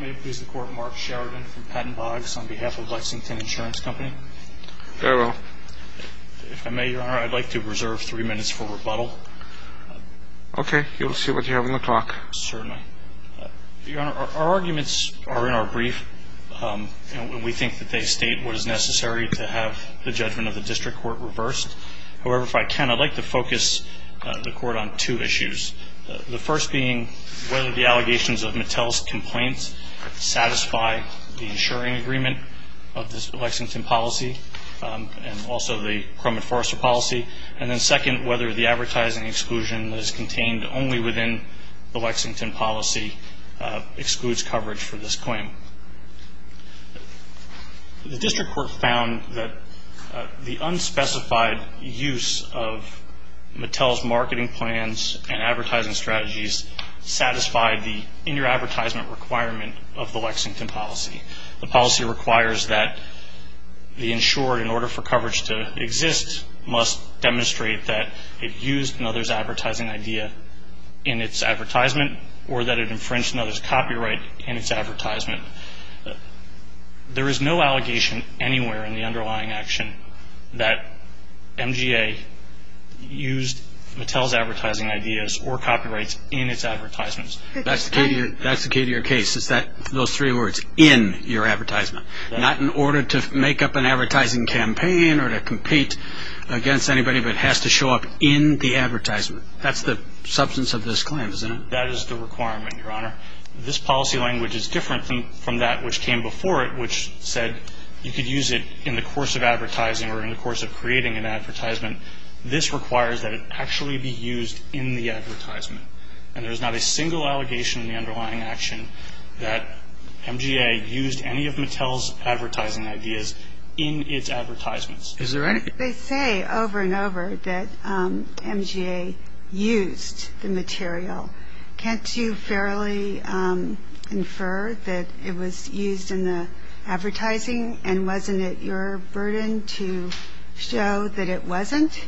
May it please the Court, Mark Sheridan from Patton Boggs on behalf of Lexington Insurance Company. Very well. If I may, Your Honor, I'd like to reserve three minutes for rebuttal. Okay. You will see what you have on the clock. Certainly. Your Honor, our arguments are in our brief, and we think that they state what is necessary to have the judgment of the District Court reversed. However, if I can, I'd like to focus the Court on two issues. The first being whether the allegations of Mattel's complaints satisfy the insuring agreement of the Lexington policy, and also the Cromit Forrester policy. And then second, whether the advertising exclusion that is contained only within the Lexington policy excludes coverage for this claim. The District Court found that the unspecified use of Mattel's marketing plans and advertising strategies satisfied the in-your-advertisement requirement of the Lexington policy. The policy requires that the insurer, in order for coverage to exist, must demonstrate that it used another's advertising idea in its advertisement or that it infringed another's copyright in its advertisement. There is no allegation anywhere in the underlying action that MGA used Mattel's advertising ideas or copyrights in its advertisements. That's the key to your case, is those three words, in your advertisement. Not in order to make up an advertising campaign or to compete against anybody, but has to show up in the advertisement. That's the substance of this claim, isn't it? That is the requirement, Your Honor. This policy language is different from that which came before it, which said you could use it in the course of advertising or in the course of creating an advertisement. This requires that it actually be used in the advertisement. And there's not a single allegation in the underlying action that MGA used any of Mattel's advertising ideas in its advertisements. They say over and over that MGA used the material. Can't you fairly infer that it was used in the advertising and wasn't it your burden to show that it wasn't?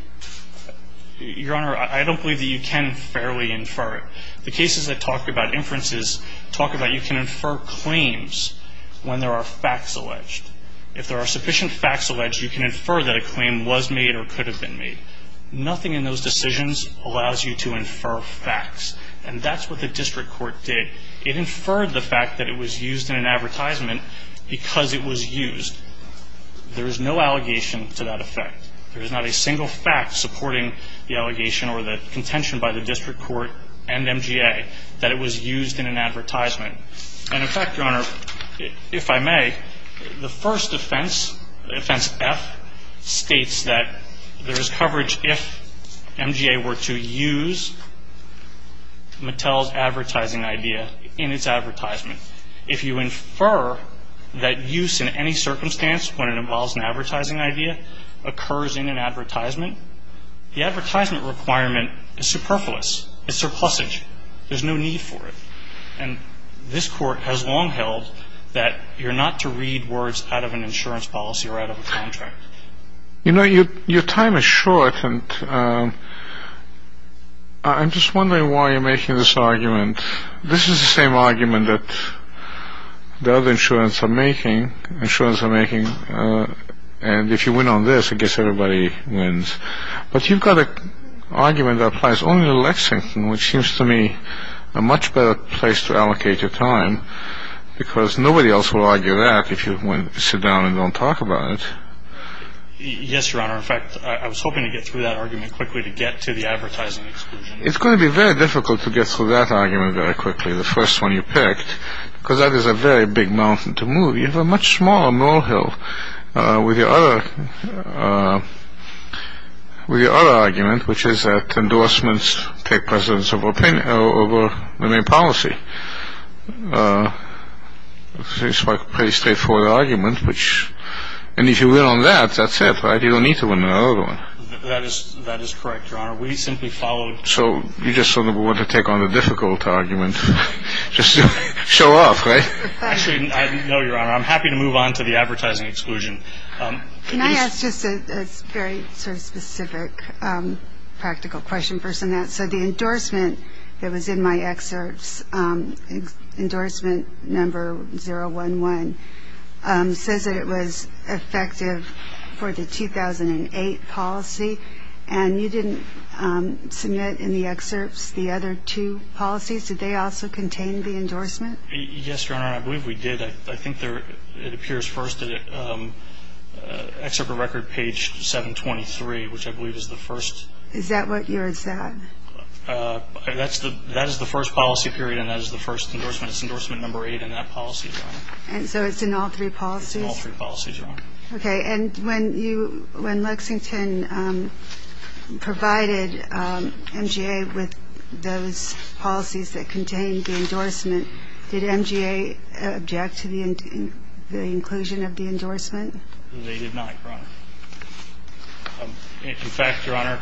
Your Honor, I don't believe that you can fairly infer it. The cases that talk about inferences talk about you can infer claims when there are facts alleged. If there are sufficient facts alleged, you can infer that a claim was made or could have been made. Nothing in those decisions allows you to infer facts. And that's what the district court did. It inferred the fact that it was used in an advertisement because it was used. There is no allegation to that effect. There is not a single fact supporting the allegation or the contention by the district court and MGA that it was used in an advertisement. And, in fact, Your Honor, if I may, the first offense, offense F, states that there is coverage if MGA were to use Mattel's advertising idea in its advertisement. If you infer that use in any circumstance when it involves an advertising idea occurs in an advertisement, the advertisement requirement is superfluous. It's surplusage. There's no need for it. And this court has long held that you're not to read words out of an insurance policy or out of a contract. You know, your time is short, and I'm just wondering why you're making this argument. This is the same argument that the other insurance are making, and if you win on this, I guess everybody wins. But you've got an argument that applies only to Lexington, which seems to me a much better place to allocate your time, because nobody else will argue that if you sit down and don't talk about it. Yes, Your Honor. In fact, I was hoping to get through that argument quickly to get to the advertising exclusion. It's going to be very difficult to get through that argument very quickly, the first one you picked, because that is a very big mountain to move. You have a much smaller moral hill with your other argument, which is that endorsements take precedence over the main policy. It's a pretty straightforward argument, and if you win on that, that's it. You don't need to win another one. That is correct, Your Honor. We simply followed. So you just sort of want to take on the difficult argument just to show off, right? Actually, no, Your Honor, I'm happy to move on to the advertising exclusion. Can I ask just a very sort of specific practical question first on that? So the endorsement that was in my excerpts, endorsement number 011, says that it was effective for the 2008 policy, and you didn't submit in the excerpts the other two policies. Did they also contain the endorsement? Yes, Your Honor, I believe we did. I think it appears first in the excerpt of record page 723, which I believe is the first. Is that what yours is at? That is the first policy period, and that is the first endorsement. It's endorsement number 08 in that policy, Your Honor. And so it's in all three policies? It's in all three policies, Your Honor. Okay. And when Lexington provided MGA with those policies that contained the endorsement, did MGA object to the inclusion of the endorsement? They did not, Your Honor. In fact, Your Honor,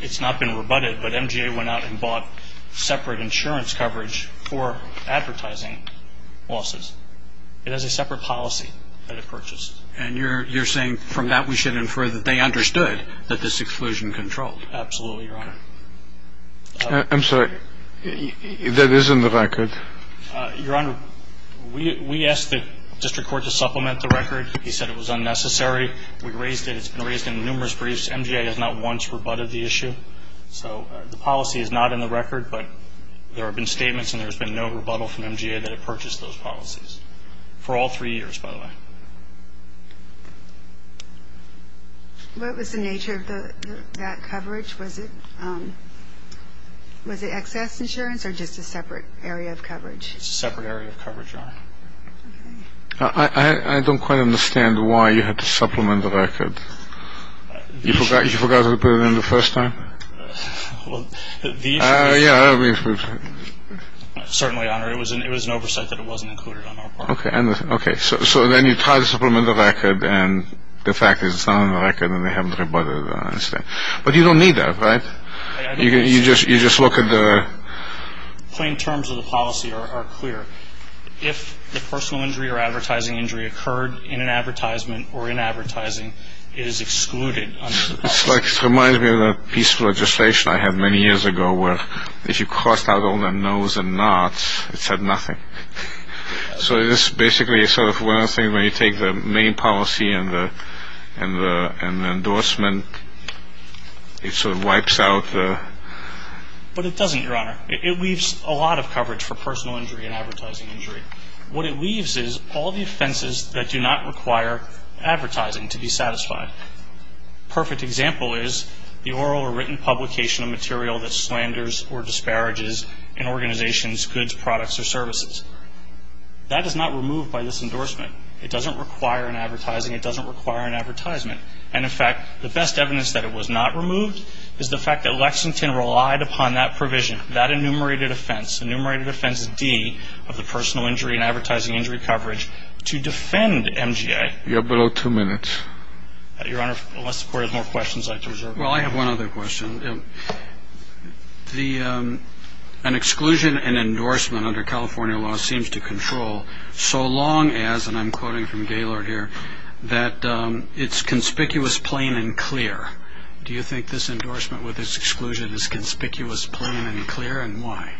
it's not been rebutted, but MGA went out and bought separate insurance coverage for advertising losses. It has a separate policy that it purchased. And you're saying from that we should infer that they understood that this exclusion controlled? Absolutely, Your Honor. I'm sorry. That is in the record. Your Honor, we asked the district court to supplement the record. He said it was unnecessary. We raised it. It's been raised in numerous briefs. MGA has not once rebutted the issue. So the policy is not in the record, but there have been statements and there's been no rebuttal from MGA that it purchased those policies for all three years, by the way. What was the nature of that coverage? Was it excess insurance or just a separate area of coverage? It's a separate area of coverage, Your Honor. Okay. I don't quite understand why you had to supplement the record. You forgot to put it in the first time? Well, the issue is certainly, Your Honor, it was an oversight that it wasn't included on our part. Okay. So then you try to supplement the record and the fact is it's not on the record and they haven't rebutted it. I understand. But you don't need that, right? You just look at the plain terms of the policy are clear. If the personal injury or advertising injury occurred in an advertisement or in advertising, it is excluded under the policy. It reminds me of a piece of legislation I had many years ago where if you crossed out all the no's and not's, it said nothing. So this basically is sort of one of those things where you take the main policy and the endorsement, it sort of wipes out the... But it doesn't, Your Honor. It leaves a lot of coverage for personal injury and advertising injury. What it leaves is all the offenses that do not require advertising to be satisfied. A perfect example is the oral or written publication of material that slanders or disparages an organization's goods, products, or services. That is not removed by this endorsement. It doesn't require an advertising. It doesn't require an advertisement. And, in fact, the best evidence that it was not removed is the fact that Lexington relied upon that provision, that enumerated offense, enumerated offense D of the personal injury and advertising injury coverage, to defend MGA. You're below two minutes. Your Honor, unless the Court has more questions, I'd like to reserve... Well, I have one other question. An exclusion and endorsement under California law seems to control so long as, and I'm quoting from Gaylord here, that it's conspicuous, plain, and clear. Do you think this endorsement with its exclusion is conspicuous, plain, and clear, and why?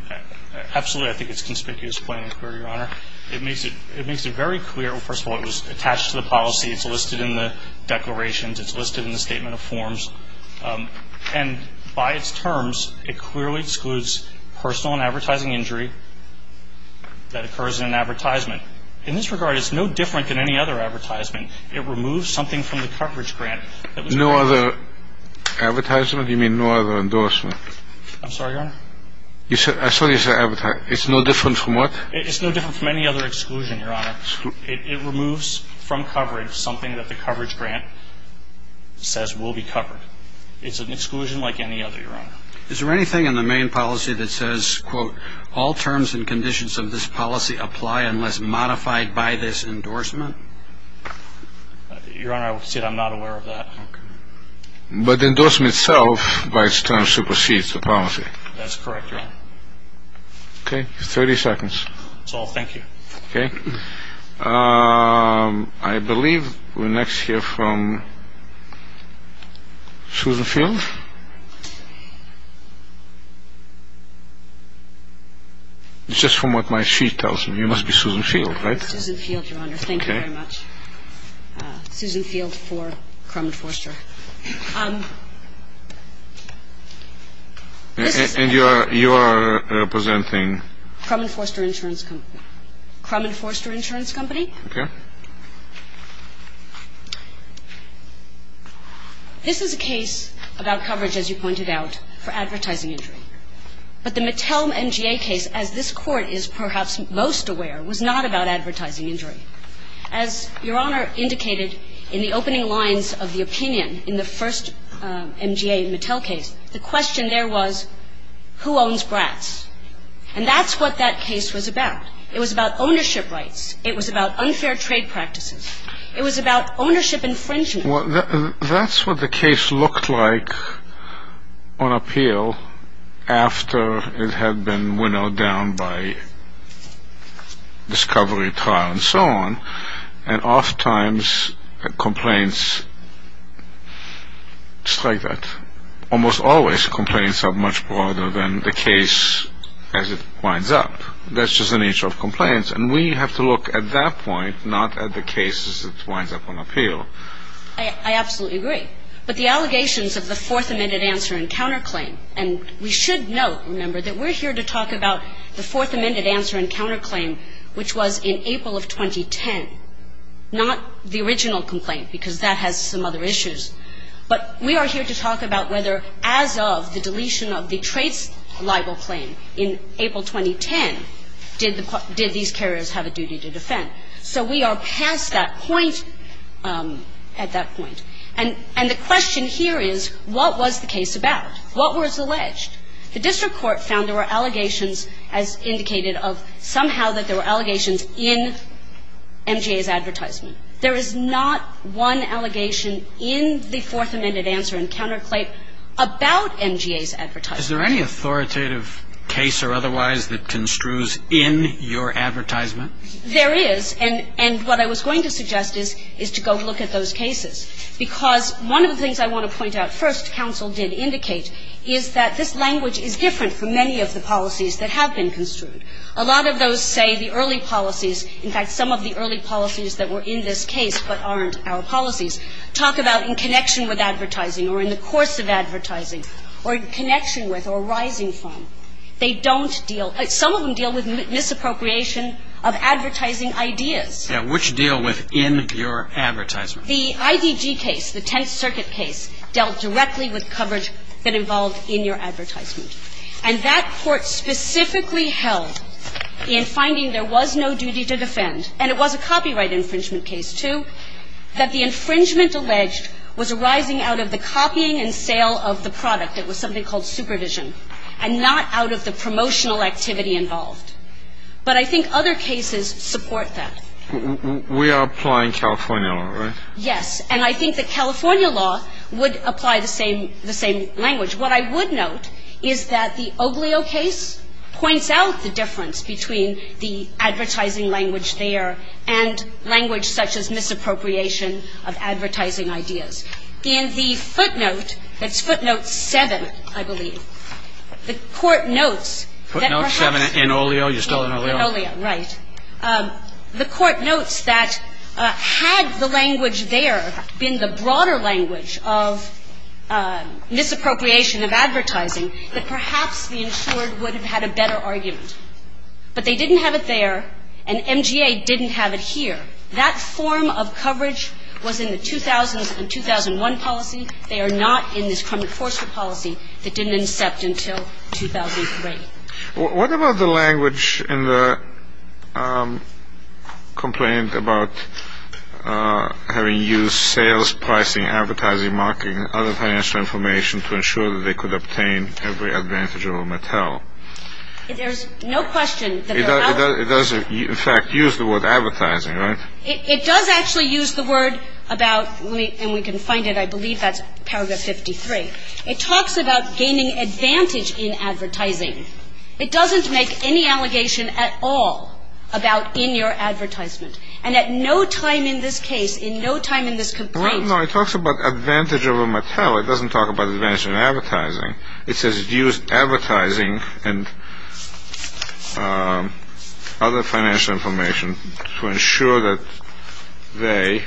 Absolutely, I think it's conspicuous, plain, and clear, Your Honor. It makes it very clear. First of all, it was attached to the policy. It's listed in the declarations. It's listed in the statement of forms. And by its terms, it clearly excludes personal and advertising injury that occurs in an advertisement. In this regard, it's no different than any other advertisement. It removes something from the coverage grant. No other advertisement? You mean no other endorsement? I'm sorry, Your Honor? I saw you say advertisement. It's no different from what? It's no different from any other exclusion, Your Honor. It removes from coverage something that the coverage grant says will be covered. It's an exclusion like any other, Your Honor. Is there anything in the main policy that says, quote, all terms and conditions of this policy apply unless modified by this endorsement? Your Honor, I will say that I'm not aware of that. But the endorsement itself, by its terms, supersedes the policy. That's correct, Your Honor. Okay, 30 seconds. That's all. Thank you. Okay. I believe we're next here from Susan Field. It's just from what my sheet tells me. You must be Susan Field, right? Susan Field, Your Honor. Thank you very much. Susan Field for Crum and Forster. And you are representing? Crum and Forster Insurance Company. Crum and Forster Insurance Company. Okay. This is a case about coverage, as you pointed out, for advertising injury. But the Mattel MGA case, as this Court is perhaps most aware, was not about advertising injury. As Your Honor indicated in the opening lines of the opinion in the first MGA Mattel case, the question there was, who owns Bratz? And that's what that case was about. It was about ownership rights. It was about unfair trade practices. It was about ownership infringement. That's what the case looked like on appeal after it had been winnowed down by discovery trial and so on. And oftentimes complaints strike that. Almost always complaints are much broader than the case as it winds up. And we have to look at that point, not at the case as it winds up on appeal. I absolutely agree. But the allegations of the Fourth Amendment answer and counterclaim, and we should note, remember, that we're here to talk about the Fourth Amendment answer and counterclaim, which was in April of 2010, not the original complaint, because that has some other issues. But we are here to talk about whether, as of the deletion of the traits libel claim in April 2010, did these carriers have a duty to defend. So we are past that point at that point. And the question here is, what was the case about? What was alleged? The district court found there were allegations, as indicated, of somehow that there were allegations in MGA's advertisement. There is not one allegation in the Fourth Amendment answer and counterclaim about MGA's advertisement. Is there any authoritative case or otherwise that construes in your advertisement? There is. And what I was going to suggest is to go look at those cases. Because one of the things I want to point out first, counsel did indicate, is that this language is different from many of the policies that have been construed. A lot of those say the early policies, in fact, some of the early policies that were in this case, but aren't our policies, talk about in connection with advertising or in the course of advertising or in connection with or arising from. They don't deal – some of them deal with misappropriation of advertising ideas. Yes. Which deal with in your advertisement? The IDG case, the Tenth Circuit case, dealt directly with coverage that involved in your advertisement. And that court specifically held in finding there was no duty to defend, and it was a copyright infringement case, too, that the infringement alleged was arising out of the copying and sale of the product. It was something called supervision and not out of the promotional activity involved. But I think other cases support that. We are applying California law, right? Yes. And I think that California law would apply the same language. What I would note is that the Oglio case points out the difference between the advertising language there and language such as misappropriation of advertising ideas. In the footnote, it's footnote 7, I believe, the court notes that perhaps – Footnote 7 in Oglio. You're still in Oglio. In Oglio, right. The court notes that had the language there been the broader language of misappropriation of advertising, that perhaps the insured would have had a better argument. But they didn't have it there, and MGA didn't have it here. That form of coverage was in the 2000s and 2001 policy. They are not in this Kremit-Forster policy that didn't incept until 2003. What about the language in the complaint about having used sales, pricing, advertising, marketing, and other financial information to ensure that they could obtain every advantage over Mattel? There's no question that they're not. It does, in fact, use the word advertising, right? It does actually use the word about – and we can find it, I believe that's paragraph 53. It talks about gaining advantage in advertising. It doesn't make any allegation at all about in your advertisement. And at no time in this case, in no time in this complaint – No, it talks about advantage over Mattel. It doesn't talk about advantage in advertising. It says it used advertising and other financial information to ensure that they,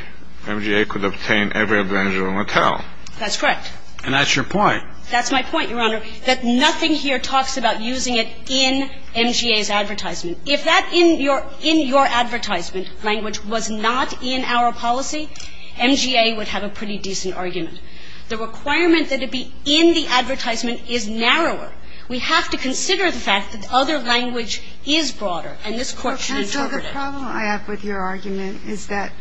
MGA, could obtain every advantage over Mattel. That's correct. And that's your point. That's my point, Your Honor, that nothing here talks about using it in MGA's advertisement. If that in your – in your advertisement language was not in our policy, MGA would have a pretty decent argument. The requirement that it be in the advertisement is narrower. We have to consider the fact that the other language is broader, and this Court should interpret it. And so the problem I have with your argument is that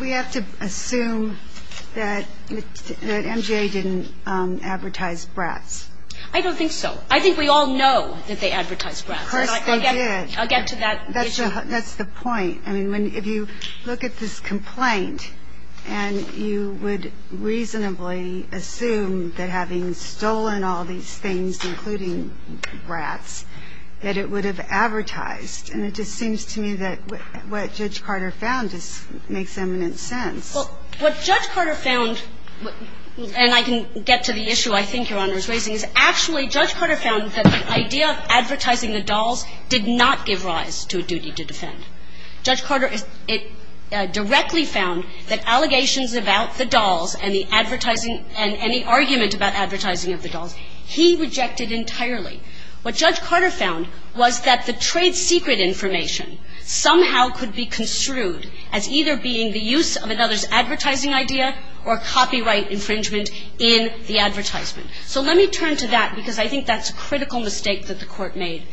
we have to assume that MGA didn't advertise Bratz. I don't think so. I think we all know that they advertised Bratz. Of course they did. I'll get to that issue. That's the point. I mean, if you look at this complaint and you would reasonably assume that having stolen all these things, including Bratz, that it would have advertised. And it just seems to me that what Judge Carter found just makes eminent sense. Well, what Judge Carter found – and I can get to the issue I think Your Honor is raising – is actually Judge Carter found that the idea of advertising the dolls did not give rise to a duty to defend. Judge Carter directly found that allegations about the dolls and the advertising and the argument about advertising of the dolls, he rejected entirely. What Judge Carter found was that the trade secret information somehow could be construed as either being the use of another's advertising idea or copyright infringement in the advertisement. So let me turn to that because I think that's a critical mistake that the Court made.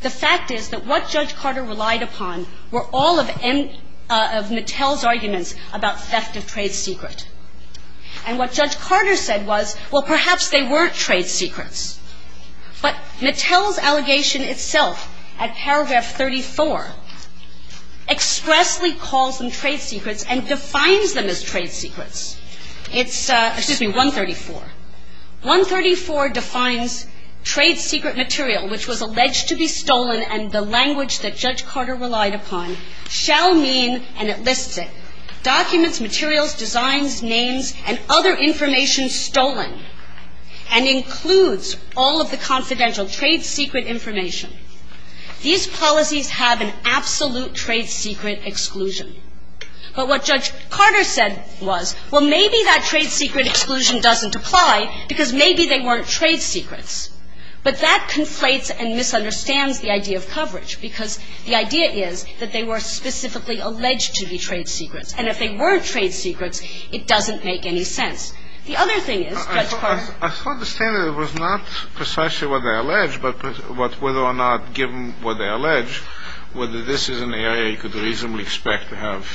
The fact is that what Judge Carter relied upon were all of Mattel's arguments about theft of trade secret. And what Judge Carter said was, well, perhaps they weren't trade secrets. But Mattel's allegation itself at paragraph 34 expressly calls them trade secrets and defines them as trade secrets. Excuse me, 134. 134 defines trade secret material which was alleged to be stolen and the language that Judge Carter relied upon shall mean – and it lists it – documents, materials, designs, names, and other information stolen and includes all of the confidential trade secret information. These policies have an absolute trade secret exclusion. But what Judge Carter said was, well, maybe that trade secret exclusion doesn't apply because maybe they weren't trade secrets. But that conflates and misunderstands the idea of coverage because the idea is that they were specifically alleged to be trade secrets. And if they weren't trade secrets, it doesn't make any sense. The other thing is, Judge Carter – I still understand that it was not precisely what they allege, but whether or not given what they allege, whether this is an area you could reasonably expect to have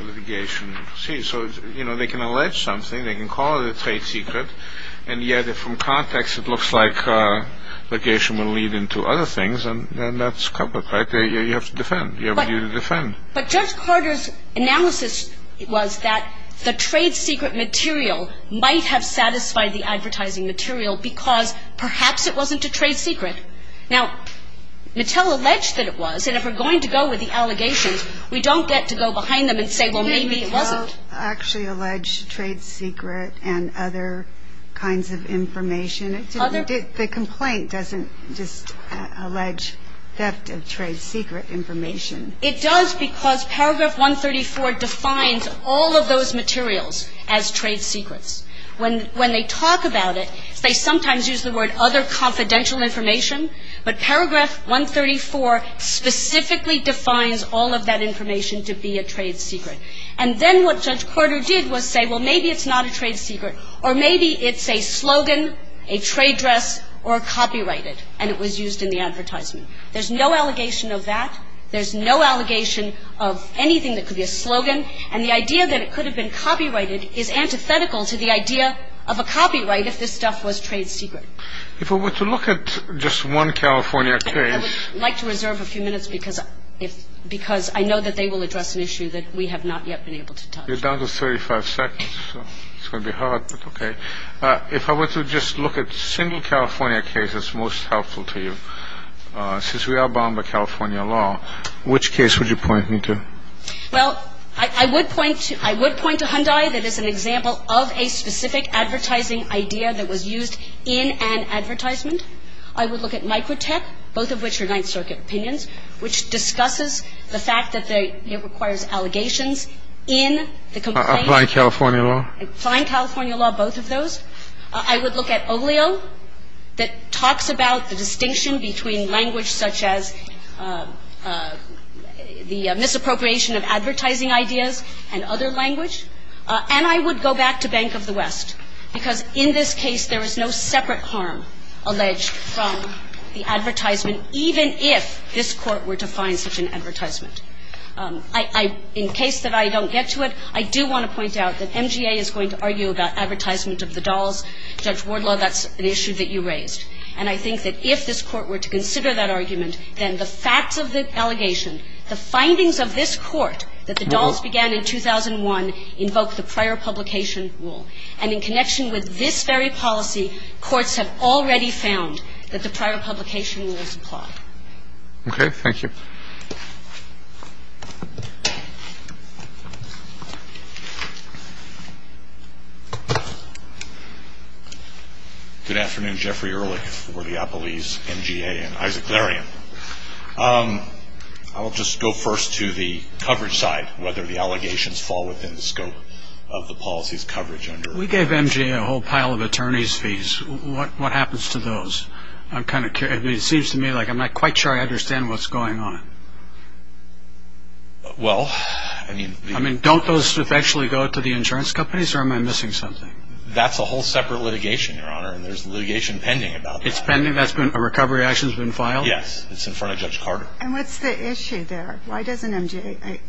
litigation. See, so, you know, they can allege something, they can call it a trade secret, and yet if from context it looks like litigation will lead into other things, then that's covered, right? You have to defend. You have a duty to defend. But Judge Carter's analysis was that the trade secret material might have satisfied the advertising material because perhaps it wasn't a trade secret. Now, Mattel alleged that it was. And if we're going to go with the allegations, we don't get to go behind them and say, well, maybe it wasn't. Can Mattel actually allege trade secret and other kinds of information? The complaint doesn't just allege theft of trade secret information. It does because paragraph 134 defines all of those materials as trade secrets. When they talk about it, they sometimes use the word other confidential information, but paragraph 134 specifically defines all of that information to be a trade secret. And then what Judge Carter did was say, well, maybe it's not a trade secret or maybe it's a slogan, a trade dress, or copyrighted, and it was used in the advertisement. There's no allegation of that. There's no allegation of anything that could be a slogan. And the idea that it could have been copyrighted is antithetical to the idea of a copyright if this stuff was trade secret. If we were to look at just one California case. I would like to reserve a few minutes because I know that they will address an issue that we have not yet been able to touch. You're down to 35 seconds, so it's going to be hard, but okay. If I were to just look at single California cases most helpful to you, since we are bound by California law, which case would you point me to? Well, I would point to Hyundai that is an example of a specific advertising idea that was used in an advertisement. I would look at Microtech, both of which are Ninth Circuit opinions, which discusses the fact that it requires allegations in the complaint. Applying California law. Applying California law, both of those. I would look at Bank of the West. I would look at Oleo that talks about the distinction between language such as the misappropriation of advertising ideas and other language. And I would go back to Bank of the West, because in this case there is no separate harm alleged from the advertisement, even if this Court were to find such an advertisement. In case that I don't get to it, I do want to point out that MGA is going to argue about advertisement of the dolls. Judge Wardlaw, that's an issue that you raised. And I think that if this Court were to consider that argument, then the facts of the allegation, the findings of this Court, that the dolls began in 2001, invoke the prior publication rule. And in connection with this very policy, courts have already found that the prior publication rules apply. Okay. Thank you. Thank you. Good afternoon. Jeffrey Ehrlich for Leopolis MGA and Isaac Larian. I'll just go first to the coverage side, whether the allegations fall within the scope of the policy's coverage. We gave MGA a whole pile of attorney's fees. What happens to those? I'm kind of curious. It seems to me like I'm not quite sure I understand what's going on. Well, I mean. I mean, don't those eventually go to the insurance companies, or am I missing something? That's a whole separate litigation, Your Honor, and there's litigation pending about that. It's pending? A recovery action's been filed? Yes. It's in front of Judge Carter. And what's the issue there? Why doesn't MGA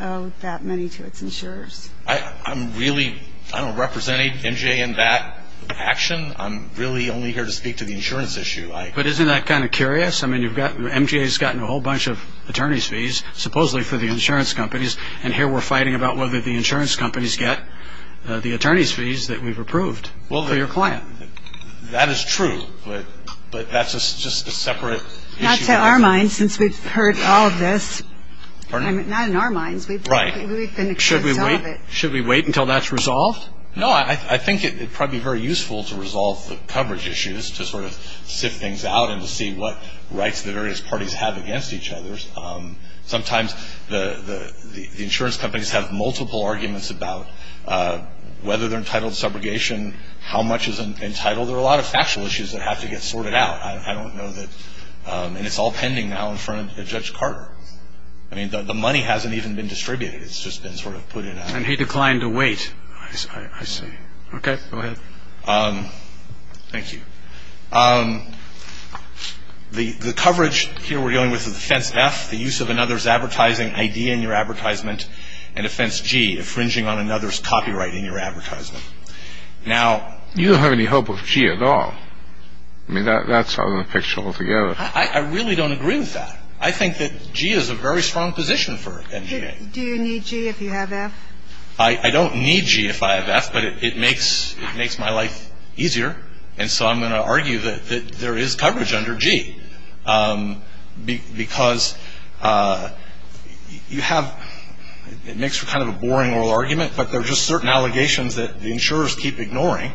owe that money to its insurers? I'm really, I don't represent any MGA in that action. I'm really only here to speak to the insurance issue. But isn't that kind of curious? I mean, MGA's gotten a whole bunch of attorney's fees, supposedly for the insurance companies, and here we're fighting about whether the insurance companies get the attorney's fees that we've approved for your client. That is true, but that's just a separate issue. Not to our minds, since we've heard all of this. Pardon? Not in our minds. Right. Should we wait until that's resolved? No, I think it would probably be very useful to resolve the coverage issues, to sort of sift things out and to see what rights the various parties have against each other. Sometimes the insurance companies have multiple arguments about whether they're entitled to subrogation, how much is entitled. There are a lot of factual issues that have to get sorted out. I don't know that, and it's all pending now in front of Judge Carter. I mean, the money hasn't even been distributed. It's just been sort of put in action. And he declined to wait. I see. Okay. Go ahead. Thank you. The coverage here we're dealing with is a defense F, the use of another's advertising ID in your advertisement, and a defense G, infringing on another's copyright in your advertisement. Now you don't have any hope of G at all. I mean, that's out of the picture altogether. I really don't agree with that. I think that G is a very strong position for NGA. Do you need G if you have F? I don't need G if I have F, but it makes my life easier. And so I'm going to argue that there is coverage under G, because you have, it makes for kind of a boring oral argument, but there are just certain allegations that the insurers keep ignoring,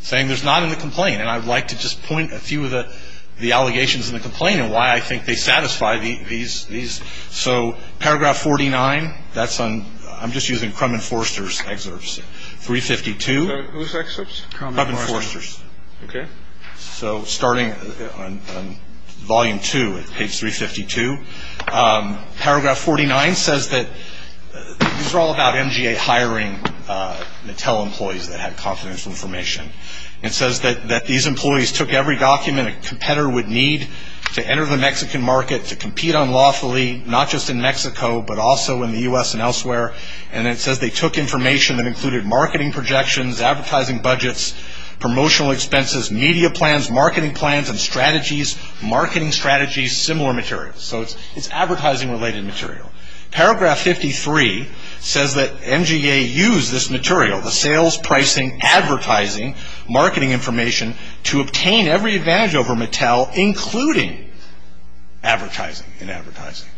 saying there's not in the complaint. And I would like to just point a few of the allegations in the complaint and why I think they satisfy these. So Paragraph 49, that's on, I'm just using Crum and Forster's excerpts, 352. Whose excerpts? Crum and Forster's. Okay. So starting on Volume 2 at page 352, Paragraph 49 says that these are all about NGA hiring Mattel employees that had confidential information. It says that these employees took every document a competitor would need to enter the Mexican market, to compete unlawfully, not just in Mexico, but also in the U.S. and elsewhere. And it says they took information that included marketing projections, advertising budgets, promotional expenses, media plans, marketing plans, and strategies, marketing strategies, similar materials. So it's advertising-related material. Paragraph 53 says that NGA used this material, the sales, pricing, advertising, marketing information, to obtain every advantage over Mattel, including advertising and advertising.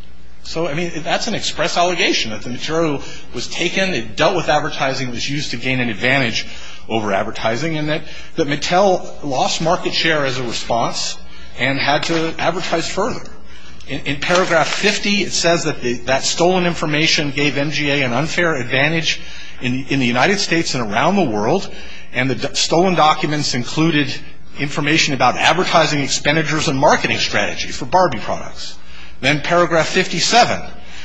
So, I mean, that's an express allegation, that the material was taken, it dealt with advertising, it was used to gain an advantage over advertising, and that Mattel lost market share as a response and had to advertise further. In Paragraph 50, it says that that stolen information gave NGA an unfair advantage in the United States and around the world, and the stolen documents included information about advertising expenditures and marketing strategies for Barbie products. Then Paragraph 57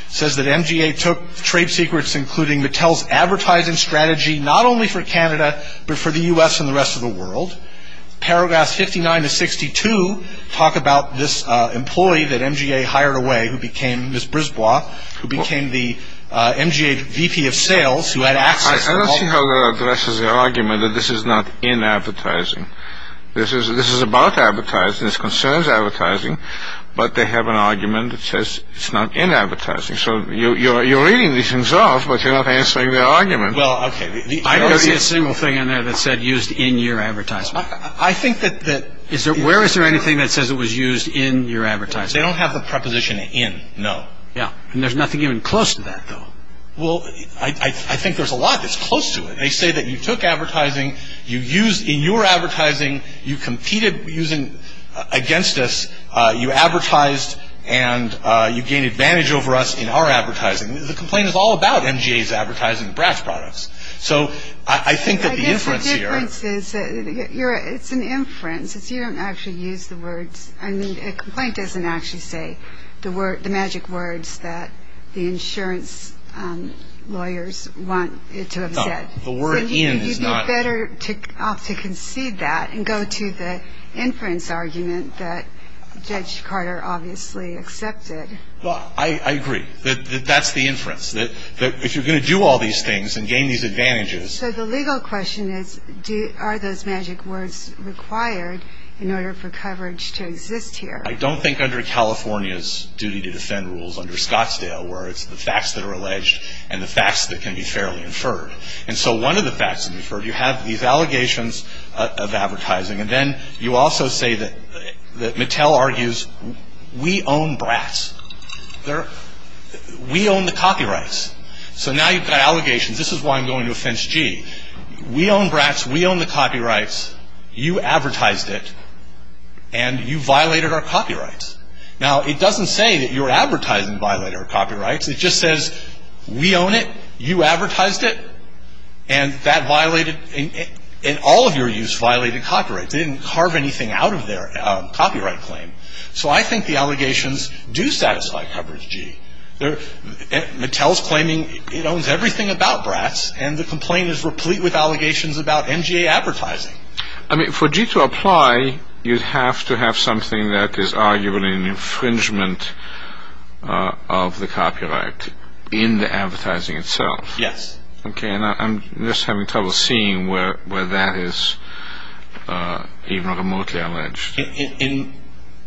says that NGA took trade secrets, including Mattel's advertising strategy, not only for Canada, but for the U.S. and the rest of the world. Paragraphs 59 to 62 talk about this employee that NGA hired away who became Ms. Brisbois, who became the MGA VP of sales, who had access to all- I don't see how that addresses their argument that this is not in advertising. This is about advertising, this concerns advertising, but they have an argument that says it's not in advertising. So you're reading these things off, but you're not answering their argument. Well, okay. I don't see a single thing in there that said used in your advertisement. I think that- Where is there anything that says it was used in your advertisement? They don't have the preposition in, no. Yeah, and there's nothing even close to that, though. Well, I think there's a lot that's close to it. They say that you took advertising, you used in your advertising, you competed against us, you advertised, and you gained advantage over us in our advertising. The complaint is all about NGA's advertising of Brad's products. So I think that the inference here- I guess the difference is it's an inference. You don't actually use the words. I mean, a complaint doesn't actually say the magic words that the insurance lawyers want it to have said. No. The word in is not- So you'd be better off to concede that and go to the inference argument that Judge Carter obviously accepted. Well, I agree that that's the inference, that if you're going to do all these things and gain these advantages- So the legal question is, are those magic words required in order for coverage to exist here? I don't think under California's duty to defend rules, under Scottsdale, where it's the facts that are alleged and the facts that can be fairly inferred. And so one of the facts that can be inferred, you have these allegations of advertising, and then you also say that Mattel argues, we own Brad's. We own the copyrights. So now you've got allegations. This is why I'm going to offense G. We own Brad's. We own the copyrights. You advertised it. And you violated our copyrights. Now, it doesn't say that your advertising violated our copyrights. It just says, we own it. You advertised it. And that violated- And all of your use violated copyrights. They didn't carve anything out of their copyright claim. So I think the allegations do satisfy coverage, G. Mattel's claiming it owns everything about Brad's, and the complaint is replete with allegations about MGA advertising. I mean, for G to apply, you'd have to have something that is arguably an infringement of the copyright in the advertising itself. Yes. Okay, and I'm just having trouble seeing where that is even remotely alleged. In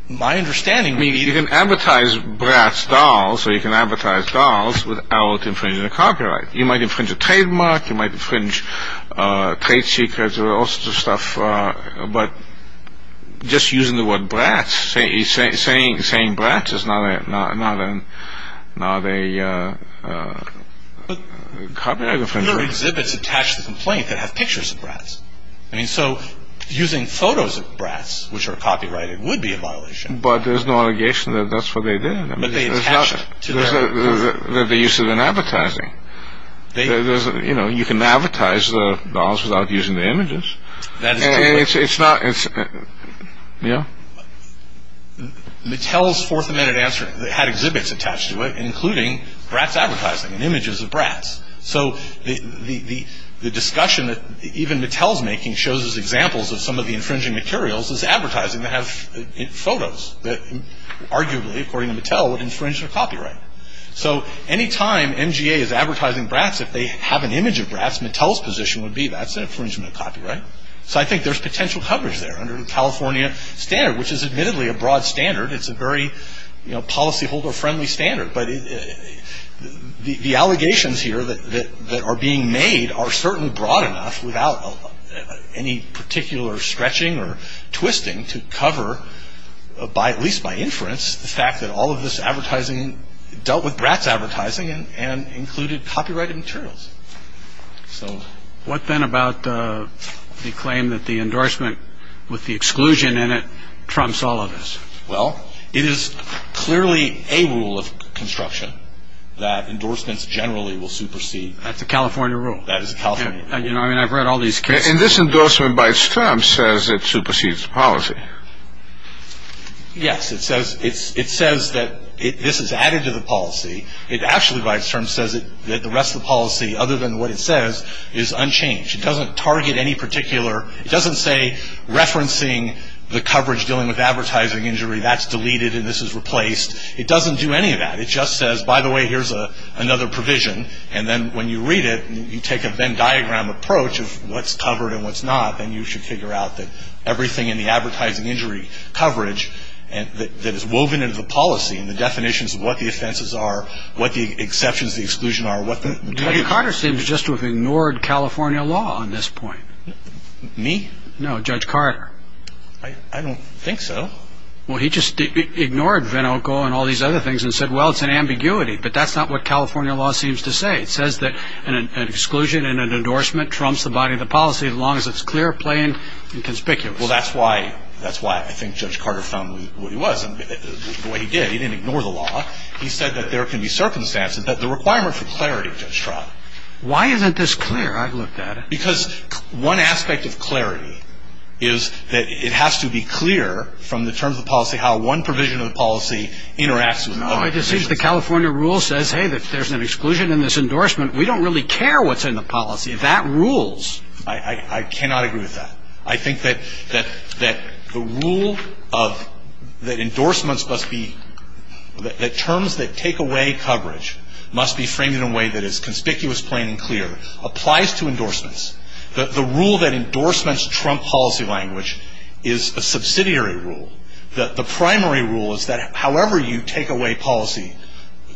my understanding- You can advertise Brad's dolls, or you can advertise dolls, without infringing the copyright. You might infringe a trademark. You might infringe trade secrets, or all sorts of stuff. But just using the word Brad's, saying Brad's is not a copyright infringement. Your exhibits attach the complaint that have pictures of Brad's. I mean, so using photos of Brad's, which are copyrighted, would be a violation. But there's no allegation that that's what they did. But they attached it to their- The use of an advertising. You know, you can advertise the dolls without using the images. That is true, but- And it's not- Mattel's Fourth Amendment answer had exhibits attached to it, including Brad's advertising and images of Brad's. So the discussion that even Mattel's making shows as examples of some of the infringing materials as advertising that have photos that arguably, according to Mattel, would infringe their copyright. So any time MGA is advertising Brad's, if they have an image of Brad's, Mattel's position would be that's an infringement of copyright. So I think there's potential coverage there under the California standard, which is admittedly a broad standard. It's a very policyholder-friendly standard. But the allegations here that are being made are certainly broad enough without any particular stretching or twisting to cover, at least by inference, the fact that all of this advertising dealt with Brad's advertising and included copyrighted materials. So- What then about the claim that the endorsement with the exclusion in it trumps all of this? Well, it is clearly a rule of construction that endorsements generally will supersede- That is a California rule. You know, I mean, I've read all these cases- And this endorsement, by its term, says it supersedes policy. Yes. It says that this is added to the policy. It actually, by its term, says that the rest of the policy, other than what it says, is unchanged. It doesn't target any particular- It doesn't say, referencing the coverage dealing with advertising injury, that's deleted and this is replaced. It doesn't do any of that. It just says, by the way, here's another provision. And then when you read it and you take a Venn diagram approach of what's covered and what's not, then you should figure out that everything in the advertising injury coverage that is woven into the policy and the definitions of what the offenses are, what the exceptions to the exclusion are, what the- Judge Carter seems just to have ignored California law on this point. Me? No, Judge Carter. I don't think so. Well, he just ignored Venoco and all these other things and said, well, it's an ambiguity. But that's not what California law seems to say. It says that an exclusion and an endorsement trumps the body of the policy as long as it's clear, plain, and conspicuous. Well, that's why I think Judge Carter found what he was. The way he did, he didn't ignore the law. He said that there can be circumstances, that the requirement for clarity, Judge Trott. Why isn't this clear? I've looked at it. Because one aspect of clarity is that it has to be clear from the terms of policy how one provision of the policy interacts with another provision of the policy. Well, it just seems the California rule says, hey, there's an exclusion in this endorsement. We don't really care what's in the policy. That rules. I cannot agree with that. I think that the rule that endorsements must be- that terms that take away coverage must be framed in a way that is conspicuous, plain, and clear applies to endorsements. The rule that endorsements trump policy language is a subsidiary rule. The primary rule is that however you take away policy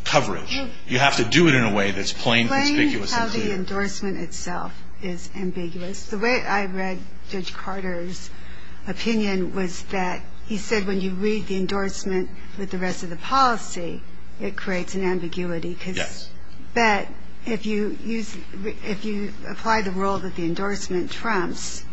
coverage, you have to do it in a way that's plain, conspicuous, and clear. Plain how the endorsement itself is ambiguous. The way I read Judge Carter's opinion was that he said when you read the endorsement with the rest of the policy, it creates an ambiguity. Yes. But if you apply the rule that the endorsement trumps,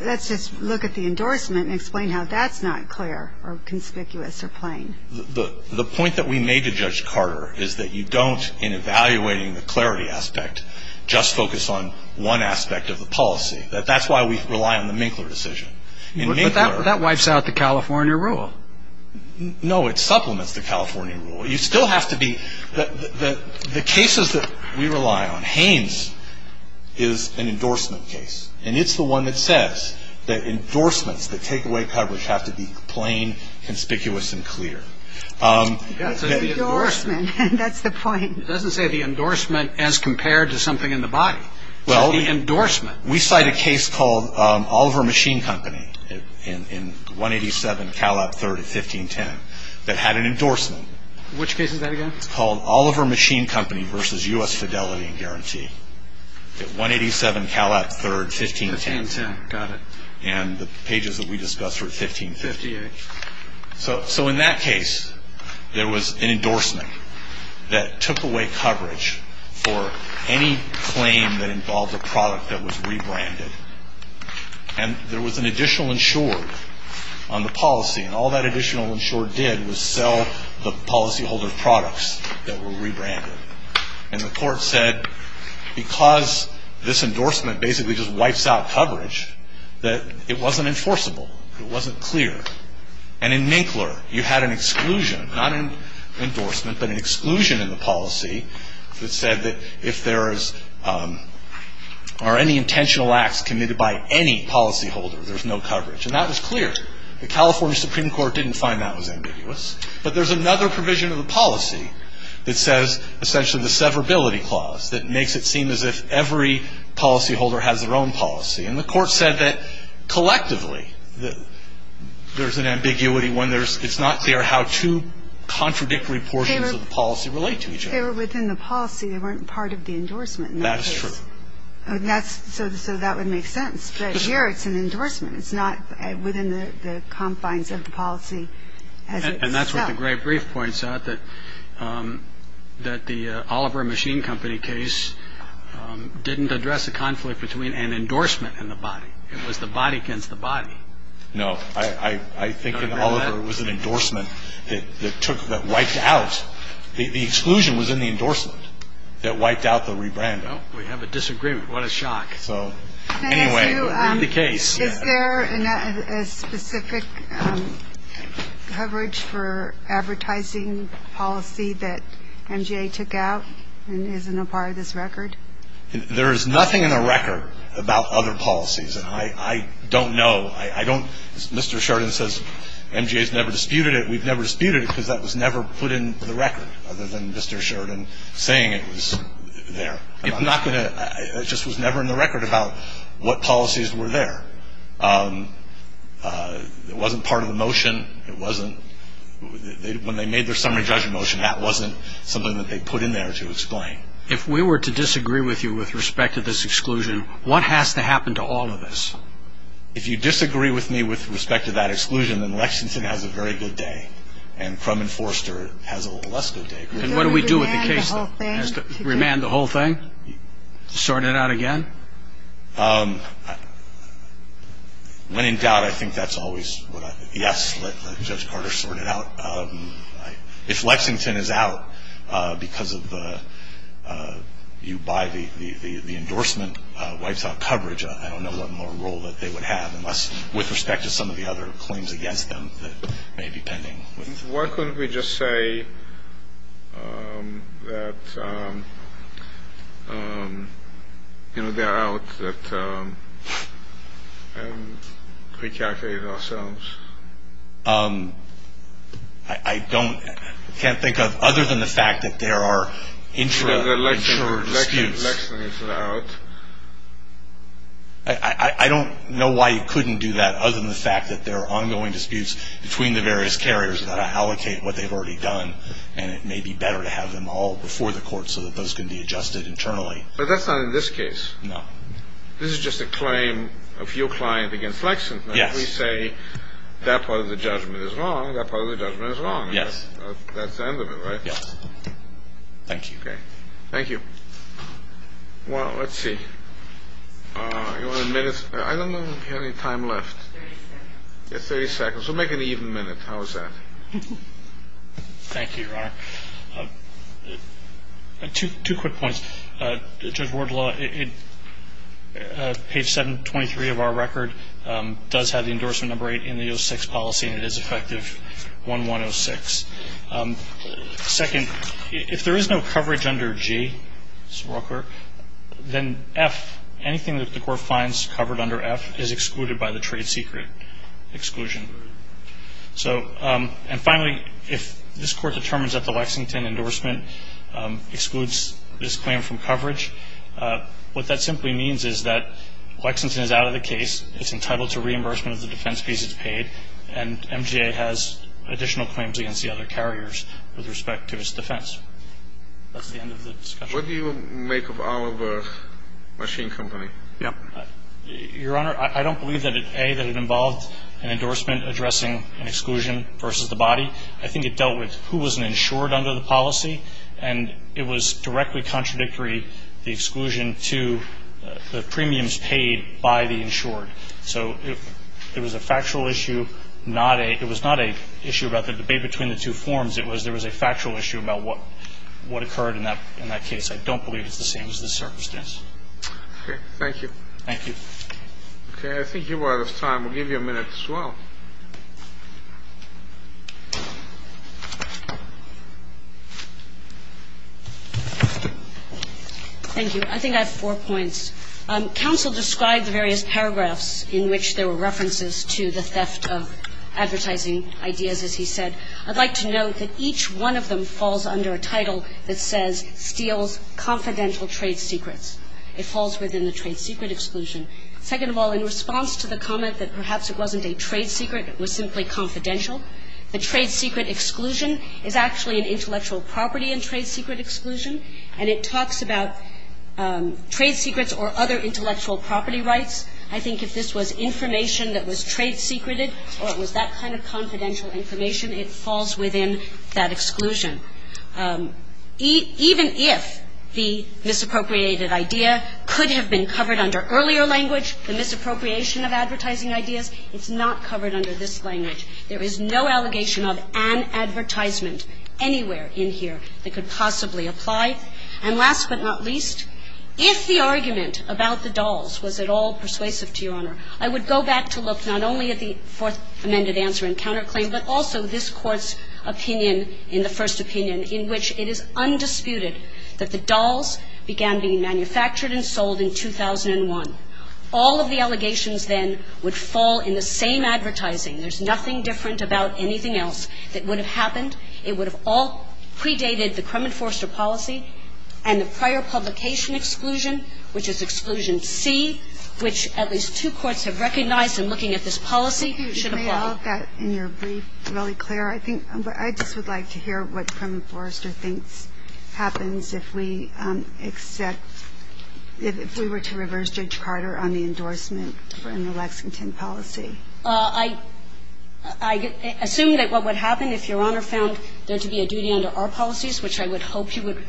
let's just look at the endorsement and explain how that's not clear or conspicuous or plain. The point that we made to Judge Carter is that you don't, in evaluating the clarity aspect, just focus on one aspect of the policy. That's why we rely on the Minkler decision. But that wipes out the California rule. No, it supplements the California rule. You still have to be the cases that we rely on. Haynes is an endorsement case. And it's the one that says that endorsements that take away coverage have to be plain, conspicuous, and clear. That's an endorsement. That's the point. It doesn't say the endorsement as compared to something in the body. The endorsement. We cite a case called Oliver Machine Company in 187 Calat III at 1510 that had an endorsement. Which case is that again? It's called Oliver Machine Company versus U.S. Fidelity and Guarantee at 187 Calat III, 1510. 1510, got it. And the pages that we discussed were 1558. So in that case, there was an endorsement that took away coverage for any claim that involved a product that was rebranded. And there was an additional insured on the policy. And all that additional insured did was sell the policyholder products that were rebranded. And the court said because this endorsement basically just wipes out coverage, that it wasn't enforceable. It wasn't clear. And in Minkler, you had an exclusion, not an endorsement, but an exclusion in the policy that said that if there are any intentional acts committed by any policyholder, there's no coverage. And that was clear. The California Supreme Court didn't find that was ambiguous. But there's another provision of the policy that says essentially the severability clause that makes it seem as if every policyholder has their own policy. And the court said that collectively there's an ambiguity when it's not clear how two contradictory portions of the policy relate to each other. They were within the policy. They weren't part of the endorsement in that case. That is true. So that would make sense. But here it's an endorsement. It's not within the confines of the policy as itself. And that's what the great brief points out, that the Oliver Machine Company case didn't address a conflict between an endorsement and the body. It was the body against the body. No. I think that Oliver was an endorsement that wiped out. The exclusion was in the endorsement that wiped out the rebranding. We have a disagreement. What a shock. So anyway. In the case. Is there a specific coverage for advertising policy that MGA took out and isn't a part of this record? There is nothing in the record about other policies. And I don't know. I don't. Mr. Sheridan says MGA has never disputed it. We've never disputed it because that was never put in the record other than Mr. Sheridan saying it was there. I'm not going to. It just was never in the record about what policies were there. It wasn't part of the motion. It wasn't. When they made their summary judgment motion, that wasn't something that they put in there to explain. If we were to disagree with you with respect to this exclusion, what has to happen to all of this? If you disagree with me with respect to that exclusion, then Lexington has a very good day. And Crum and Forster has a less good day. And what do we do with the case? Remand the whole thing? Sort it out again? When in doubt, I think that's always what I think. Yes, let Judge Carter sort it out. If Lexington is out because you buy the endorsement, wipes out coverage, I don't know what more role that they would have, Why couldn't we just say that they're out and recalculate ourselves? I can't think of other than the fact that there are intradictory disputes. The Lexington is out. I don't know why you couldn't do that other than the fact that there are ongoing disputes between the various carriers that allocate what they've already done. And it may be better to have them all before the court so that those can be adjusted internally. But that's not in this case. No. This is just a claim of your client against Lexington. Yes. If we say that part of the judgment is wrong, that part of the judgment is wrong. Yes. That's the end of it, right? Yes. Thank you. Okay. Thank you. Well, let's see. You want a minute? I don't know if we have any time left. Thirty seconds. Thirty seconds. We'll make an even minute. How's that? Thank you, Your Honor. Two quick points. Judge Wardlaw, page 723 of our record does have the endorsement number eight in the 06 policy, and it is effective 1-1-0-6. Second, if there is no coverage under G, then F, anything that the court finds covered under F, is excluded by the trade secret exclusion. And finally, if this court determines that the Lexington endorsement excludes this claim from coverage, what that simply means is that Lexington is out of the case, it's entitled to reimbursement of the defense fees it's paid, and MGA has additional claims against the other carriers with respect to its defense. That's the end of the discussion. What do you make of Oliver Machine Company? Your Honor, I don't believe that, A, that it involved an endorsement addressing an exclusion versus the body. I think it dealt with who was an insured under the policy, and it was directly contradictory, the exclusion to the premiums paid by the insured. So it was a factual issue, not a – it was not an issue about the debate between the two forms. It was there was a factual issue about what occurred in that case. I don't believe it's the same as this circumstance. Okay. Thank you. Thank you. Okay. I think you are out of time. We'll give you a minute as well. Thank you. I think I have four points. First, counsel described the various paragraphs in which there were references to the theft of advertising ideas, as he said. I'd like to note that each one of them falls under a title that says steals confidential trade secrets. It falls within the trade secret exclusion. Second of all, in response to the comment that perhaps it wasn't a trade secret, it was simply confidential, the trade secret exclusion is actually an intellectual property in trade secret exclusion, and it talks about trade secrets or other intellectual property rights. I think if this was information that was trade secreted or it was that kind of confidential information, it falls within that exclusion. Even if the misappropriated idea could have been covered under earlier language, the misappropriation of advertising ideas, it's not covered under this language. There is no allegation of an advertisement anywhere in here that could possibly apply. And last but not least, if the argument about the dolls was at all persuasive to Your Honor, I would go back to look not only at the fourth amended answer and counterclaim, but also this Court's opinion in the first opinion in which it is undisputed that the dolls began being manufactured and sold in 2001. All of the allegations then would fall in the same advertising. There's nothing different about anything else that would have happened. It would have all predated the Crumman-Foerster policy and the prior publication exclusion, which is exclusion C, which at least two courts have recognized in looking at this policy should apply. Kagan. You made all of that in your brief really clear. I think what I just would like to hear what Crumman-Foerster thinks happens if we accept, if we were to reverse Judge Carter on the endorsement in the Lexington policy. I assume that what would happen if Your Honor found there to be a duty under our policies, which I would hope you would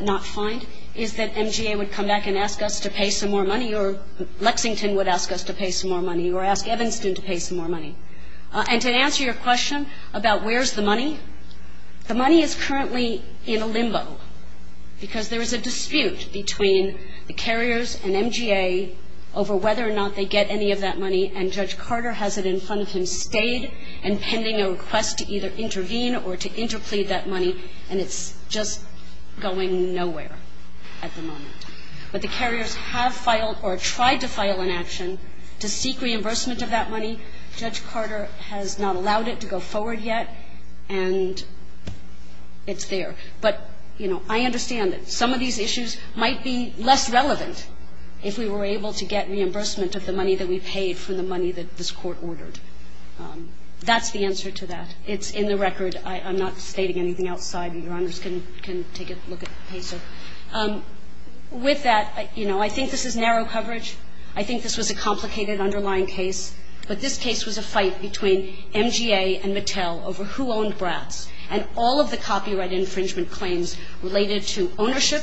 not find, is that MGA would come back and ask us to pay some more money, or Lexington would ask us to pay some more money, or ask Evanston to pay some more money. And to answer your question about where's the money, the money is currently in a limbo because there is a dispute between the carriers and MGA over whether or not they get any of that money, and Judge Carter has it in front of him stayed and pending a request to either intervene or to interplead that money, and it's just going nowhere at the moment. But the carriers have filed or tried to file an action to seek reimbursement of that money. Judge Carter has not allowed it to go forward yet, and it's there. But, you know, I understand that some of these issues might be less relevant if we were able to get reimbursement of the money that we paid for the money that this Court ordered. That's the answer to that. It's in the record. I'm not stating anything outside. Your Honors can take a look at PESA. With that, you know, I think this is narrow coverage. I think this was a complicated underlying case, but this case was a fight between MGA and Mattel over who owned Bratz and all of the copyright infringement claims related to ownership,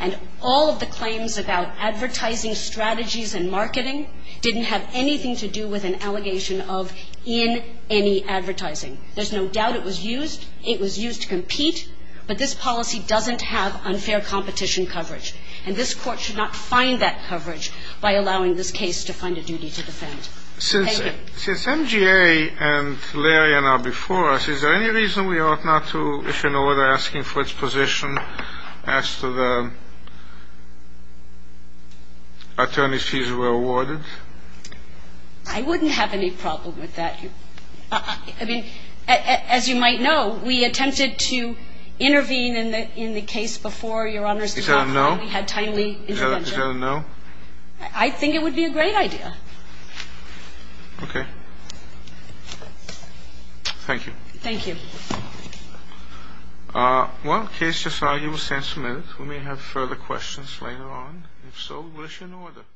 and all of the claims about advertising strategies and marketing didn't have anything to do with an allegation of in any advertising. There's no doubt it was used. It was used to compete, but this policy doesn't have unfair competition coverage, and this Court should not find that coverage by allowing this case to find a duty to defend. Thank you. Since MGA and Larian are before us, is there any reason we ought not to issue an order asking for its position after the attorney's fees were awarded? I wouldn't have any problem with that. I mean, as you might know, we attempted to intervene in the case before, Your Honors, we had timely intervention. I think it would be a great idea. Okay. Thank you. Thank you. Well, the case just argued was sentimented. We may have further questions later on. If so, we will issue an order.